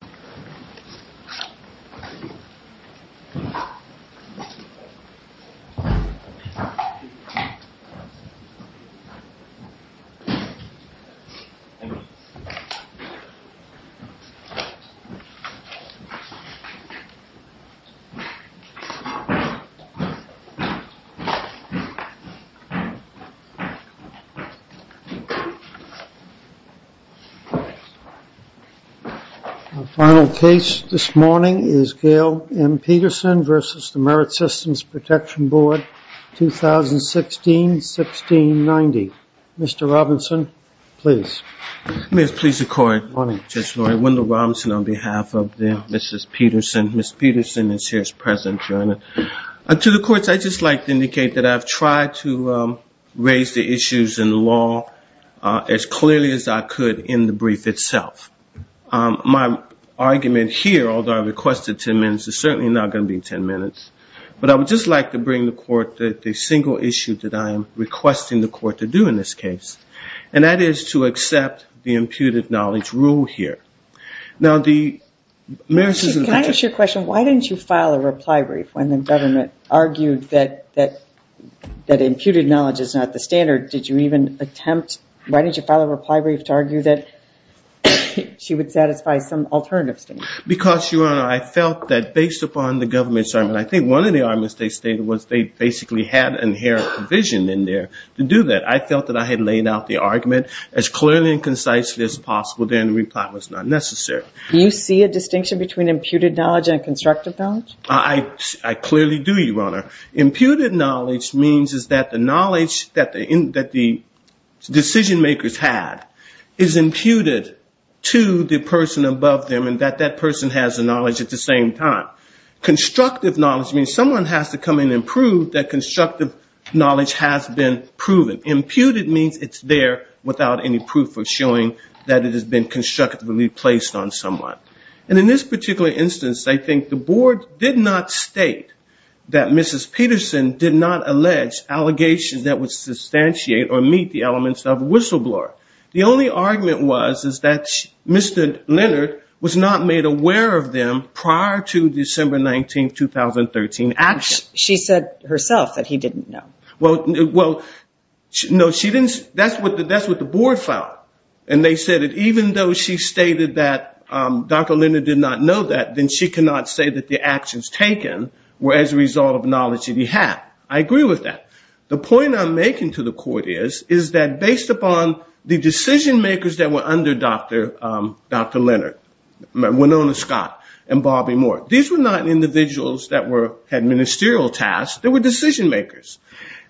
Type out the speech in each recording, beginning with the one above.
MSWordDoc Word.Document.8 Final case this morning is Gail M. Peterson v. Merit Systems Protection Board, 2016-1690. Mr. Robinson, please. May I please accord, Judge Laurie, Wendell Robinson on behalf of Mrs. Peterson. Ms. Peterson is here as present, Your Honor. To the courts, I'd just like to indicate that I've tried to raise the issues in the law as clearly as I could in the brief itself. My argument here, although I requested 10 minutes, is certainly not going to be 10 minutes. But I would just like to bring the court the single issue that I am requesting the court to do in this case. And that is to accept the imputed knowledge rule here. Now, the Merit Systems Can I ask you a question? Why didn't you file a reply brief when the government argued that imputed knowledge is not the standard? Why didn't you file a reply brief to argue that she would satisfy some alternative standards? Because, Your Honor, I felt that based upon the government's argument, I think one of the arguments they stated was they basically had inherent provision in there to do that. I felt that I had laid out the argument as clearly and concisely as possible. Their reply was not necessary. Do you see a distinction between imputed knowledge and constructive knowledge? I clearly do, Your Honor. Imputed knowledge means that the knowledge that the decision makers had is imputed to the person above them and that that person has the knowledge at the same time. Constructive knowledge means someone has to come in and prove that constructive knowledge has been proven. Imputed means it's there without any proof of showing that it has been constructively placed on someone. And in this particular instance, I think the board did not state that Mrs. Peterson did not allege allegations that would substantiate or meet the elements of whistleblower. The only argument was that Mr. Leonard was not made aware of them prior to December 19, 2013 action. She said herself that he didn't know. Well, no, that's what the board felt. And they said that even though she stated that Dr. Leonard did not know that, then she cannot say that the actions taken were as a result of knowledge that he had. I agree with that. The point I'm making to the court is that based upon the decision makers that were under Dr. Leonard, Winona Scott and Bobby Moore, these were not individuals that had ministerial tasks. They were decision makers.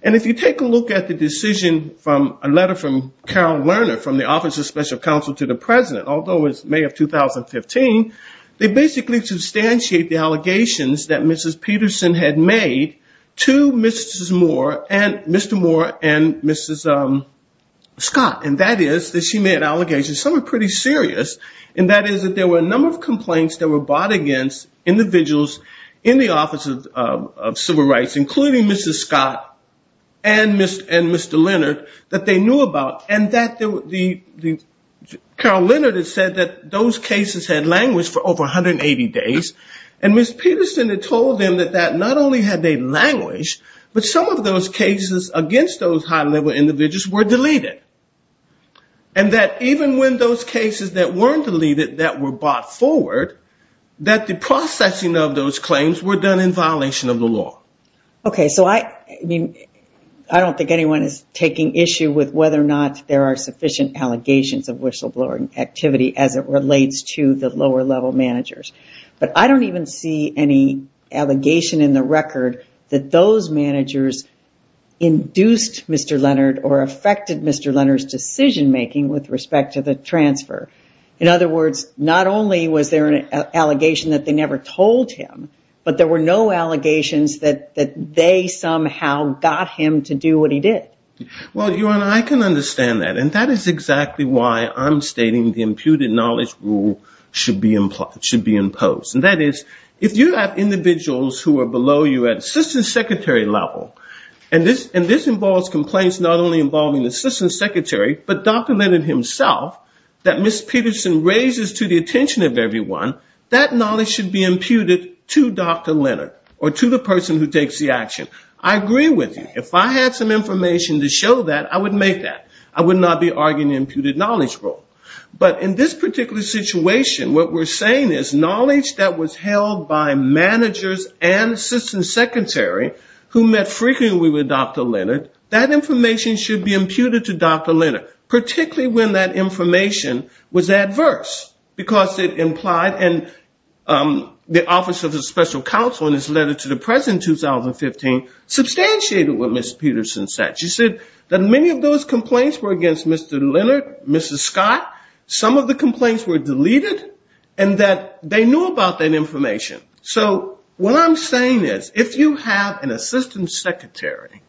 And if you take a look at the decision from a letter from Carol Lerner from the Office of Special Counsel to the President, although it was May of 2015, they basically substantiate the allegations that Mrs. Peterson had made to Mr. Moore and Mrs. Scott. And that is that she made allegations, some are pretty serious, and that is that there were a number of complaints that were brought against individuals in the Office of Civil Rights and Community Affairs. Including Mrs. Scott and Mr. Leonard that they knew about. Carol Lerner had said that those cases had languished for over 180 days. And Mrs. Peterson had told them that not only had they languished, but some of those cases against those high-level individuals were deleted. And that even when those cases that weren't deleted that were brought forward, that the processing of those claims were done in violation of the law. Okay, so I don't think anyone is taking issue with whether or not there are sufficient allegations of whistleblower activity as it relates to the lower-level managers. But I don't even see any allegation in the record that those managers induced Mr. Leonard or affected Mr. Leonard's decision-making with respect to the transfer. In other words, not only was there an allegation that they never told him, but there were no allegations that they made to Mr. Leonard. That they somehow got him to do what he did. Well, your Honor, I can understand that, and that is exactly why I'm stating the imputed knowledge rule should be imposed. And that is, if you have individuals who are below you at assistant secretary level, and this involves complaints not only involving the assistant secretary, but Dr. Leonard himself, that Mrs. Peterson raises to the attention of everyone, that knowledge should be imputed to Dr. Leonard or to the person who takes the action. I agree with you. If I had some information to show that, I would make that. I would not be arguing the imputed knowledge rule. But in this particular situation, what we're saying is knowledge that was held by managers and assistant secretary who met frequently with Dr. Leonard, that information should be imputed to Dr. Leonard, particularly when that information was adverse. Because it implied, and the Office of the Special Counsel in its letter to the President in 2015, substantiated what Mrs. Peterson said. She said that many of those complaints were against Mr. Leonard, Mrs. Scott. Some of the complaints were deleted, and that they knew about that information. So what I'm saying is, if you have an assistant secretary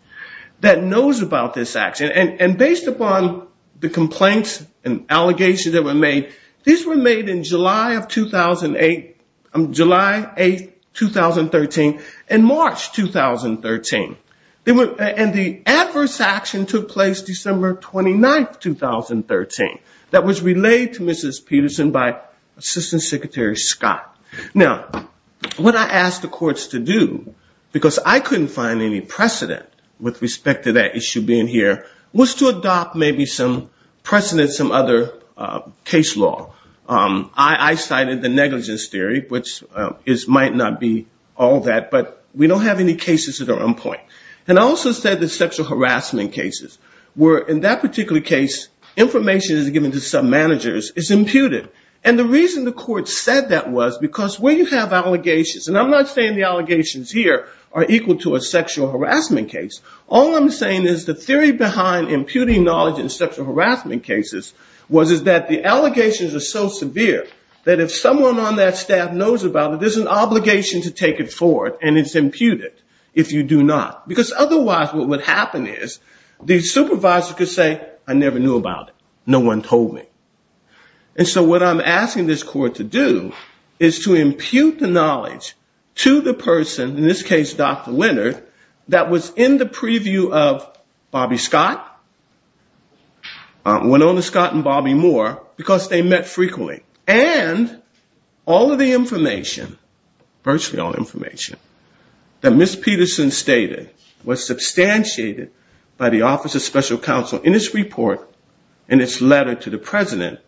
that knows about this action, and based upon the complaints and allegations that were made, these were made in July of 2008, July 8, 2013, and March 2013. And the adverse action took place December 29, 2013. That was relayed to Mrs. Peterson by Assistant Secretary Scott. Now, what I asked the courts to do, because I couldn't find any precedent with respect to that issue being here, was to adopt maybe some precedent, some other case law. I cited the negligence theory, which might not be all that, but we don't have any cases that are on point. And I also said that sexual harassment cases, where in that particular case information is given to some managers, is imputed. And the reason the court said that was because when you have allegations, and I'm not saying the allegations here are equal to a sexual harassment case. All I'm saying is the theory behind imputing knowledge in sexual harassment cases was that the allegations are so severe, that if someone on that staff knows about it, there's an obligation to take it forward, and it's imputed if you do not. Because otherwise what would happen is the supervisor could say, I never knew about it. No one told me. And so what I'm asking this court to do is to impute the knowledge to the person, in this case Dr. Leonard, that was in the preview of Bobby Scott, Winona Scott and Bobby Moore, because they met frequently. And all of the information, virtually all information, that Ms. Peterson stated was substantiated by the Office of Special Counsel in its report and its letter to the President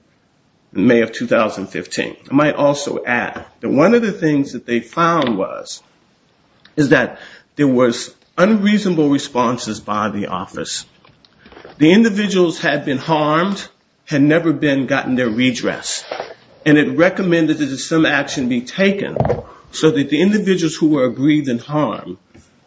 in May of 2015. I might also add that one of the things that they found was, is that there was unreasonable responses by the office. The individuals had been harmed, had never been gotten their redress. And it recommended that some action be taken so that the individuals who were aggrieved in harm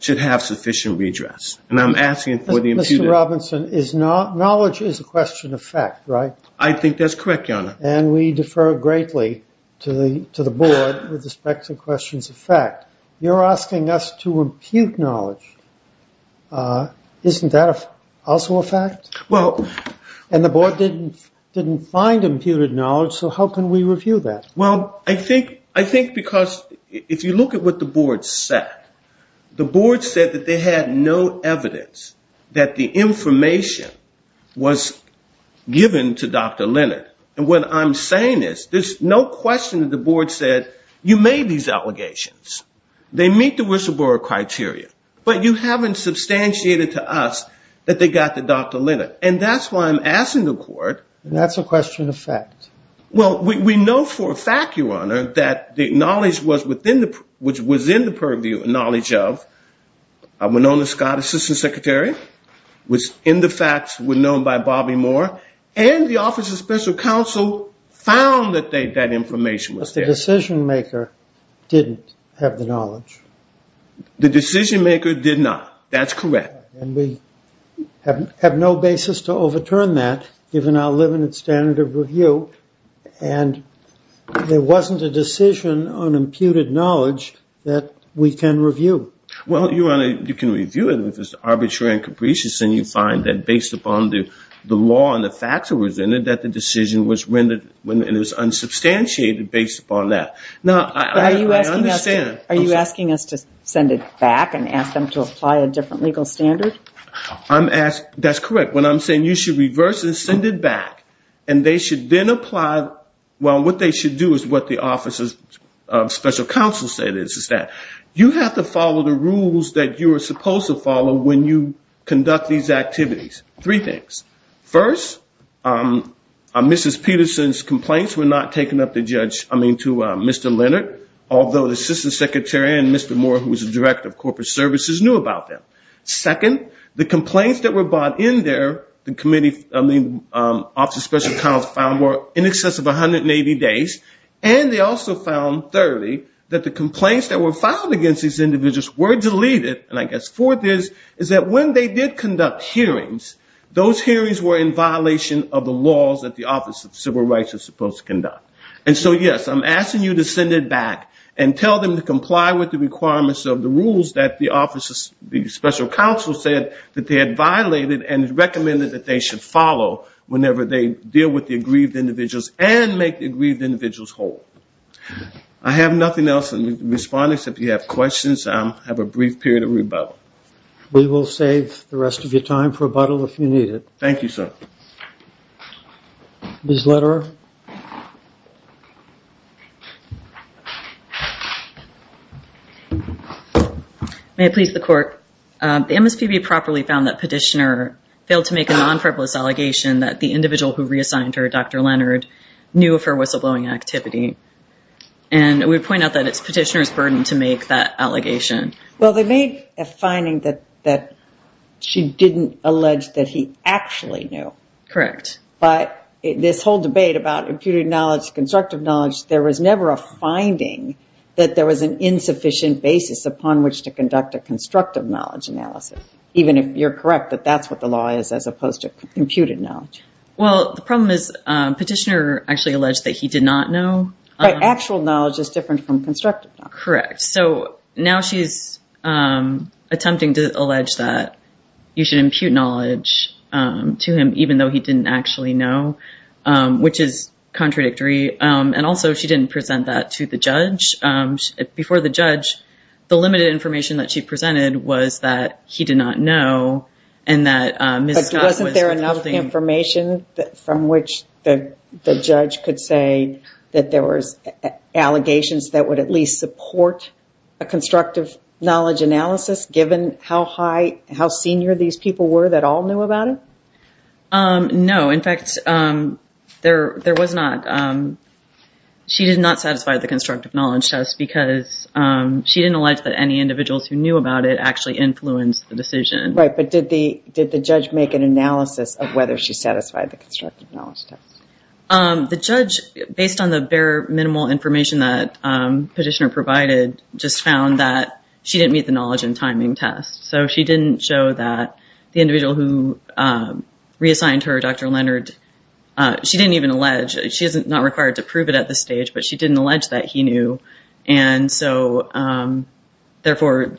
should have sufficient redress. And I'm asking for the imputed... Mr. Robinson, knowledge is a question of fact, right? I think that's correct, Your Honor. And we defer greatly to the board with respect to questions of fact. You're asking us to impute knowledge. Isn't that also a fact? And the board didn't find imputed knowledge, so how can we review that? Well, I think because if you look at what the board said, the board said that they had no evidence that the information was given to Dr. Leonard. What I'm saying is there's no question that the board said you made these allegations. They meet the whistleblower criteria. But you haven't substantiated to us that they got to Dr. Leonard. And that's why I'm asking the court... And that's a question of fact. Well, we know for a fact, Your Honor, that the knowledge was in the purview of knowledge of Winona Scott, Assistant Secretary, which in the facts were known by Bobby Moore, and the Office of Special Counsel found that that information was there. But the decision-maker didn't have the knowledge. The decision-maker did not. That's correct. And we have no basis to overturn that, given our limited standard of review, and there wasn't a decision on imputed knowledge that we can review. Well, Your Honor, you can review it if it's arbitrary and capricious, and you find that based upon the law and the facts that was in it, that the decision was rendered and it was unsubstantiated based upon that. Are you asking us to send it back and ask them to apply a different legal standard? That's correct. What I'm saying is you should reverse it and send it back, and what they should do is what the Office of Special Counsel said. You have to follow the rules that you are supposed to follow when you conduct these activities. Three things. First, Mrs. Peterson's complaints were not taken up to Mr. Leonard, although the Assistant Secretary and Mr. Moore, who was the Director of Corporate Services, knew about them. Second, the complaints that were brought in there, the Office of Special Counsel found, were in excess of 180 days, and they also found, thirdly, that the complaints that were filed against these individuals were deleted, and I guess fourth is, is that when they did conduct hearings, those hearings were in violation of the laws that the Office of Civil Rights was supposed to conduct. And so, yes, I'm asking you to send it back and tell them to comply with the requirements of the rules that the Office of Special Counsel said that they had violated and recommended that they should follow whenever they deal with the aggrieved individuals and make the aggrieved individuals whole. I have nothing else to respond to except if you have questions, I'll have a brief period of rebuttal. We will save the rest of your time for rebuttal if you need it. Thank you, sir. Ms. Lederer. May it please the Court, the MSPB properly found that Petitioner failed to make a non-frivolous allegation that the individual who reassigned her, Dr. Leonard, knew of her whistleblowing activity, and we would point out that it's Petitioner's burden to make that allegation. Well, they made a finding that she didn't allege that he actually knew. Correct. But this whole debate about imputed knowledge, constructive knowledge, there was never a finding that there was an insufficient basis upon which to conduct a constructive knowledge analysis, even if you're correct that that's what the law is as opposed to imputed knowledge. Well, the problem is Petitioner actually alleged that he did not know. But actual knowledge is different from constructive knowledge. Correct. So now she's attempting to allege that you should impute knowledge to him, even though he didn't actually know, which is contradictory. And also she didn't present that to the judge. Before the judge, the limited information that she presented was that he did not know and that Ms. Scott was withholding... But wasn't there enough information from which the judge could say that there was allegations that would at least support a constructive knowledge analysis, given how senior these people were that all knew about it? No. In fact, there was not. She did not satisfy the constructive knowledge test because she didn't allege that any individuals who knew about it actually influenced the decision. Right. But did the judge make an analysis of whether she satisfied the constructive knowledge test? The judge, based on the bare minimal information that Petitioner provided, just found that she didn't meet the knowledge and timing test. So she didn't show that the individual who reassigned her, Dr. Leonard, she didn't even allege, she's not required to prove it at this stage, but she didn't allege that he knew. And so therefore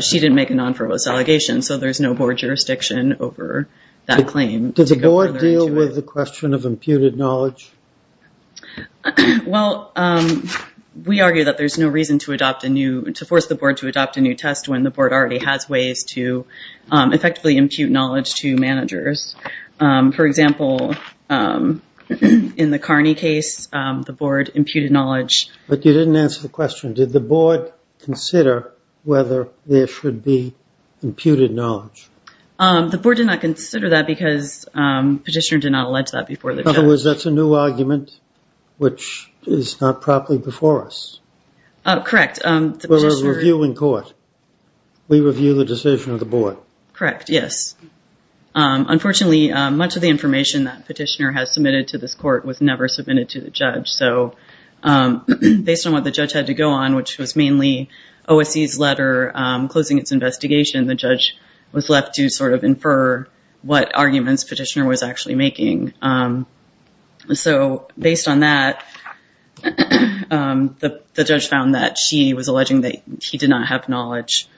she didn't make a non-verbose allegation. So there's no board jurisdiction over that claim. Did the board deal with the question of imputed knowledge? Well, we argue that there's no reason to force the board to adopt a new test when the board already has ways to effectively impute knowledge to managers. For example, in the Carney case, the board imputed knowledge. But you didn't answer the question, did the board consider whether there should be imputed knowledge? The board did not consider that because Petitioner did not allege that before the judge. In other words, that's a new argument, which is not properly before us. Correct. We're a reviewing court. We review the decision of the board. Correct, yes. Unfortunately, much of the information that Petitioner has submitted to this court was never submitted to the judge. So based on what the judge had to go on, which was mainly OSC's letter closing its investigation, the judge was left to sort of infer what arguments Petitioner was actually making. So based on that, the judge found that she was alleging that he did not have knowledge.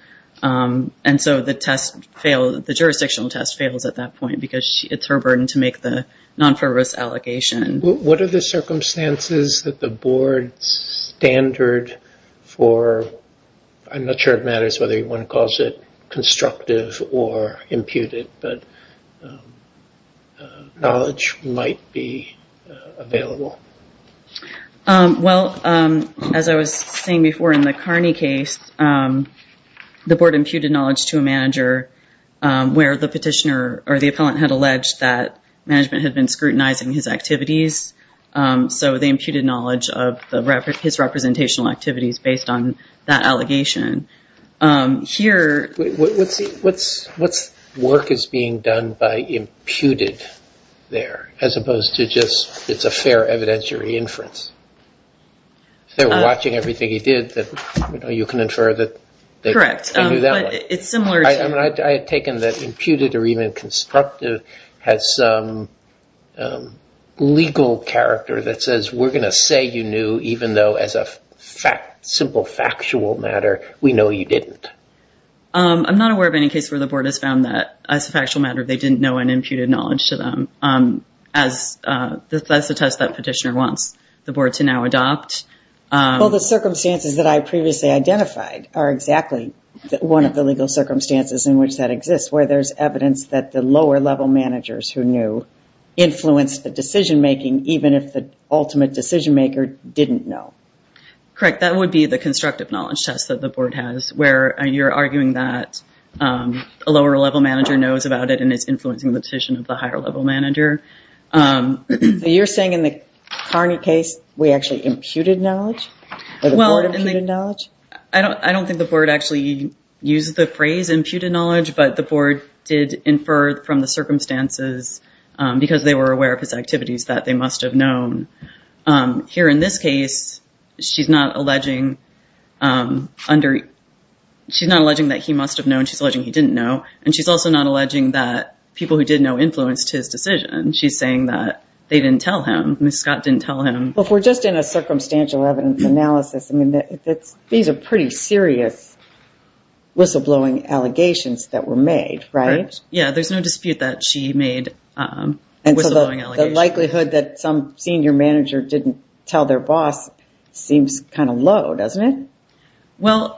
And so the test failed, the jurisdictional test fails at that point because it's her burden to make the non-verbose allegation. What are the circumstances that the board's standard for, I'm not sure it matters whether one calls it constructive or imputed, but knowledge might be available? Well, as I was saying before in the Carney case, the board imputed knowledge to a manager where the Petitioner or the appellant had alleged that management had been scrutinizing his activities. So they imputed knowledge of his representational activities based on that allegation. What work is being done by imputed there as opposed to just it's a fair evidentiary inference? If they were watching everything he did, you can infer that they knew that one. Correct. I had taken that imputed or even constructive has some legal character that says we're going to say you knew, even though as a simple factual matter, we know you didn't. I'm not aware of any case where the board has found that as a factual matter, they didn't know an imputed knowledge to them. That's the test that Petitioner wants the board to now adopt. Well, the circumstances that I previously identified are exactly one of the legal circumstances in which that exists, where there's evidence that the lower-level managers who knew influenced the decision-making, even if the ultimate decision-maker didn't know. Correct. That would be the constructive knowledge test that the board has, where you're arguing that a lower-level manager knows about it and is influencing the decision of the higher-level manager. You're saying in the Carney case, we actually imputed knowledge? Or the board imputed knowledge? I don't think the board actually used the phrase imputed knowledge, but the board did infer from the circumstances because they were aware of his activities that they must have known. Here in this case, she's not alleging that he must have known. She's alleging he didn't know. And she's also not alleging that people who did know influenced his decision. She's saying that they didn't tell him. Ms. Scott didn't tell him. Look, we're just in a circumstantial evidence analysis. These are pretty serious whistleblowing allegations that were made, right? Yeah, there's no dispute that she made a whistleblowing allegation. And so the likelihood that some senior manager didn't tell their boss seems kind of low, doesn't it? Well,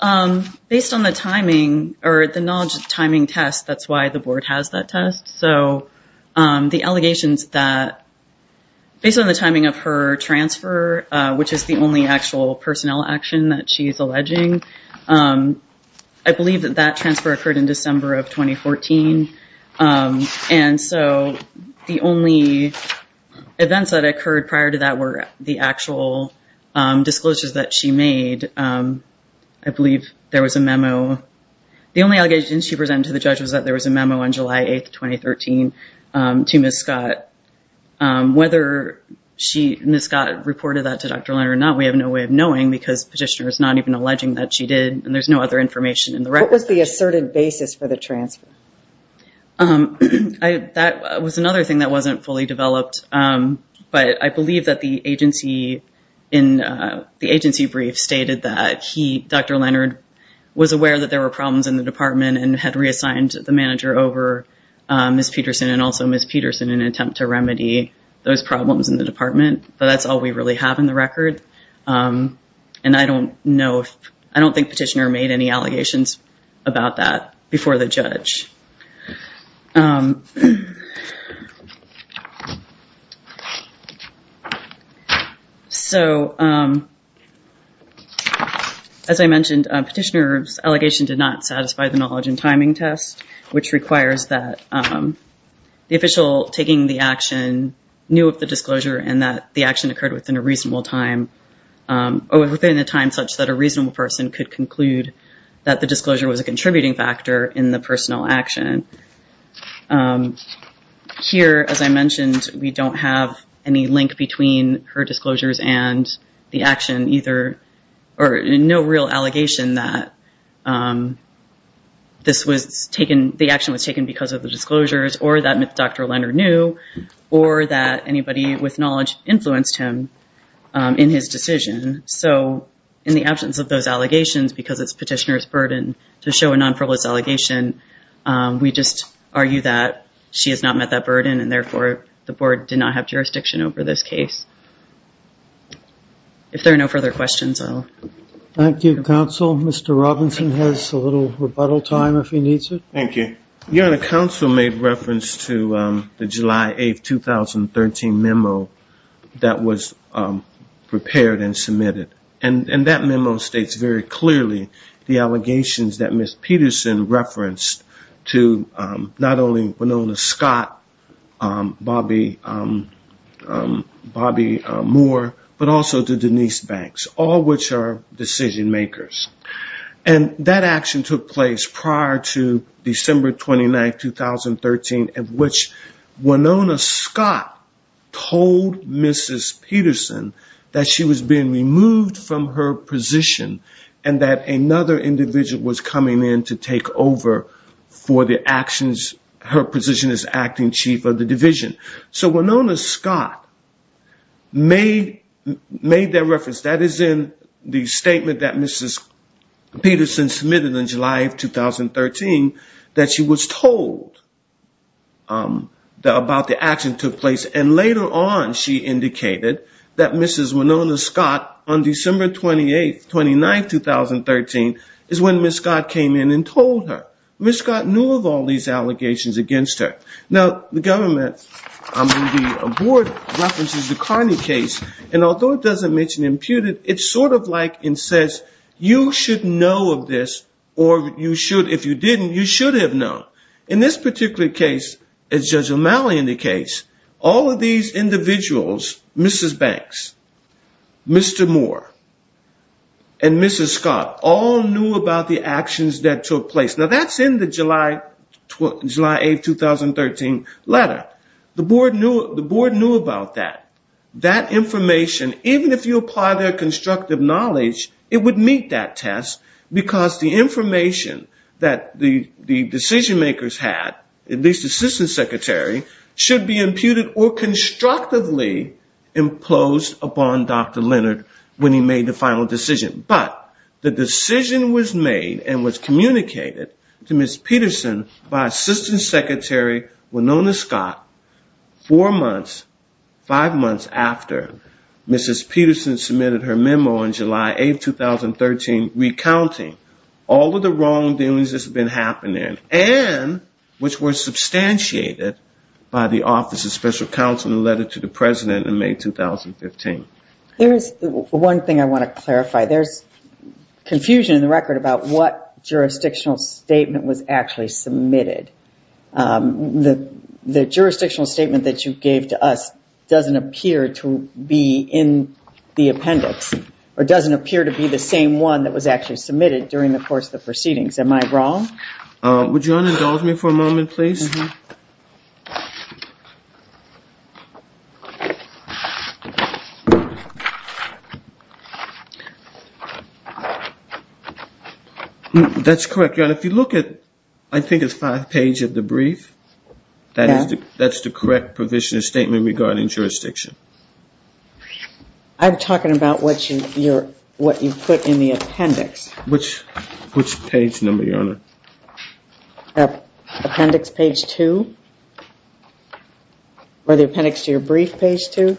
based on the timing or the knowledge of the timing test, that's why the board has that test. So the allegations that based on the timing of her transfer, which is the only actual personnel action that she's alleging, I believe that that transfer occurred in December of 2014. And so the only events that occurred prior to that were the actual disclosures that she made. I believe there was a memo. The only allegation she presented to the judge was that there was a memo on July 8th, 2013 to Ms. Scott. Whether Ms. Scott reported that to Dr. Leonard or not, we have no way of knowing because the petitioner is not even alleging that she did. And there's no other information in the record. What was the asserted basis for the transfer? That was another thing that wasn't fully developed. But I believe that the agency in the agency brief stated that he, Dr. Leonard, was aware that there were problems in the department and had reassigned the manager over Ms. Peterson and also Ms. Peterson in an attempt to remedy those problems in the department. But that's all we really have in the record. And I don't know if I don't think petitioner made any allegations about that before the judge. So, as I mentioned, petitioner's allegation did not satisfy the knowledge and timing test, which requires that the official taking the action knew of the disclosure and that the action occurred within a reasonable time or within a time such that a reasonable person could conclude that the disclosure was a contributing factor in the personal action. Here, as I mentioned, we don't have any link between her disclosures and the action, either or no real allegation that the action was taken because of the disclosures or that Dr. Leonard knew or that anybody with knowledge influenced him in his decision. So, in the absence of those allegations, because it's petitioner's burden to show a non-privileged allegation, we just argue that she has not met that burden and, therefore, the board did not have jurisdiction over this case. If there are no further questions, I'll... Thank you, counsel. Mr. Robinson has a little rebuttal time if he needs it. Thank you. Your Honor, counsel made reference to the July 8, 2013 memo that was prepared and submitted. And that memo states very clearly the allegations that Ms. Peterson referenced to not only Winona Scott, Bobby Moore, but also to Denise Banks, all which are decision makers. And that action took place prior to December 29, 2013, in which Winona Scott told Ms. Peterson that she was being removed from her position and that another individual was coming in to take over for the actions. Her position is acting chief of the division. So, Winona Scott made that reference. That is in the statement that Ms. Peterson submitted in July of 2013, that she was told about the action that took place. And later on, she indicated that Ms. Winona Scott, on December 28, 29, 2013, is when Ms. Scott came in and told her. Ms. Scott knew of all these allegations against her. Now, the government references the Carney case, and although it doesn't mention imputed, it's sort of like it says you should know of this, or if you didn't, you should have known. In this particular case, as Judge O'Malley indicates, all of these individuals, Mrs. Banks, Mr. Moore, and Mrs. Scott, all knew about the actions that took place. Now, that's in the July 8, 2013 letter. The board knew about that. That information, even if you apply their constructive knowledge, it would meet that test, because the information that the decision makers had, at least the assistant secretary, should be imputed or constructively imposed upon Dr. Leonard when he made the final decision. But the decision was made and was communicated to Ms. Peterson by Assistant Secretary Winona Scott four months, five months after Mrs. Peterson submitted her memo on July 8, 2013, recounting all of the wrongdoings that's been happening and which were substantiated by the Office of Special Counsel in the letter to the President in May 2015. There's one thing I want to clarify. There's confusion in the record about what jurisdictional statement was actually submitted. The jurisdictional statement that you gave to us doesn't appear to be in the appendix or doesn't appear to be the same one that was actually submitted during the course of the proceedings. Am I wrong? Would Your Honor indulge me for a moment, please? That's correct, Your Honor. If you look at, I think it's five pages of the brief, that's the correct provision of statement regarding jurisdiction. I'm talking about what you put in the appendix. Which page number, Your Honor? Appendix page two, or the appendix to your brief page two.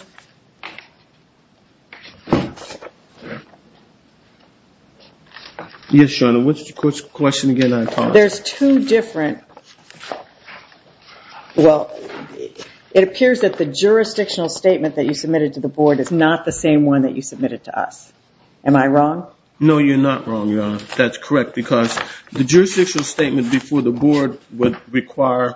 Yes, Your Honor. What's the question again that I tossed? There's two different, well, it appears that the jurisdictional statement that you submitted to the board is not the same one that you submitted to us. Am I wrong? No, you're not wrong, Your Honor. That's correct because the jurisdictional statement before the board would require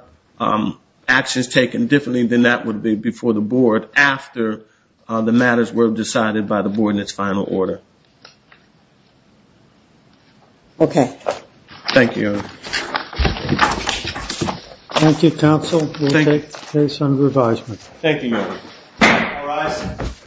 actions taken differently than that would be before the board after the matters were decided by the board in its final order. Okay. Thank you, Your Honor. Thank you, counsel. We'll take the case under advisement. Thank you, ma'am. All rise.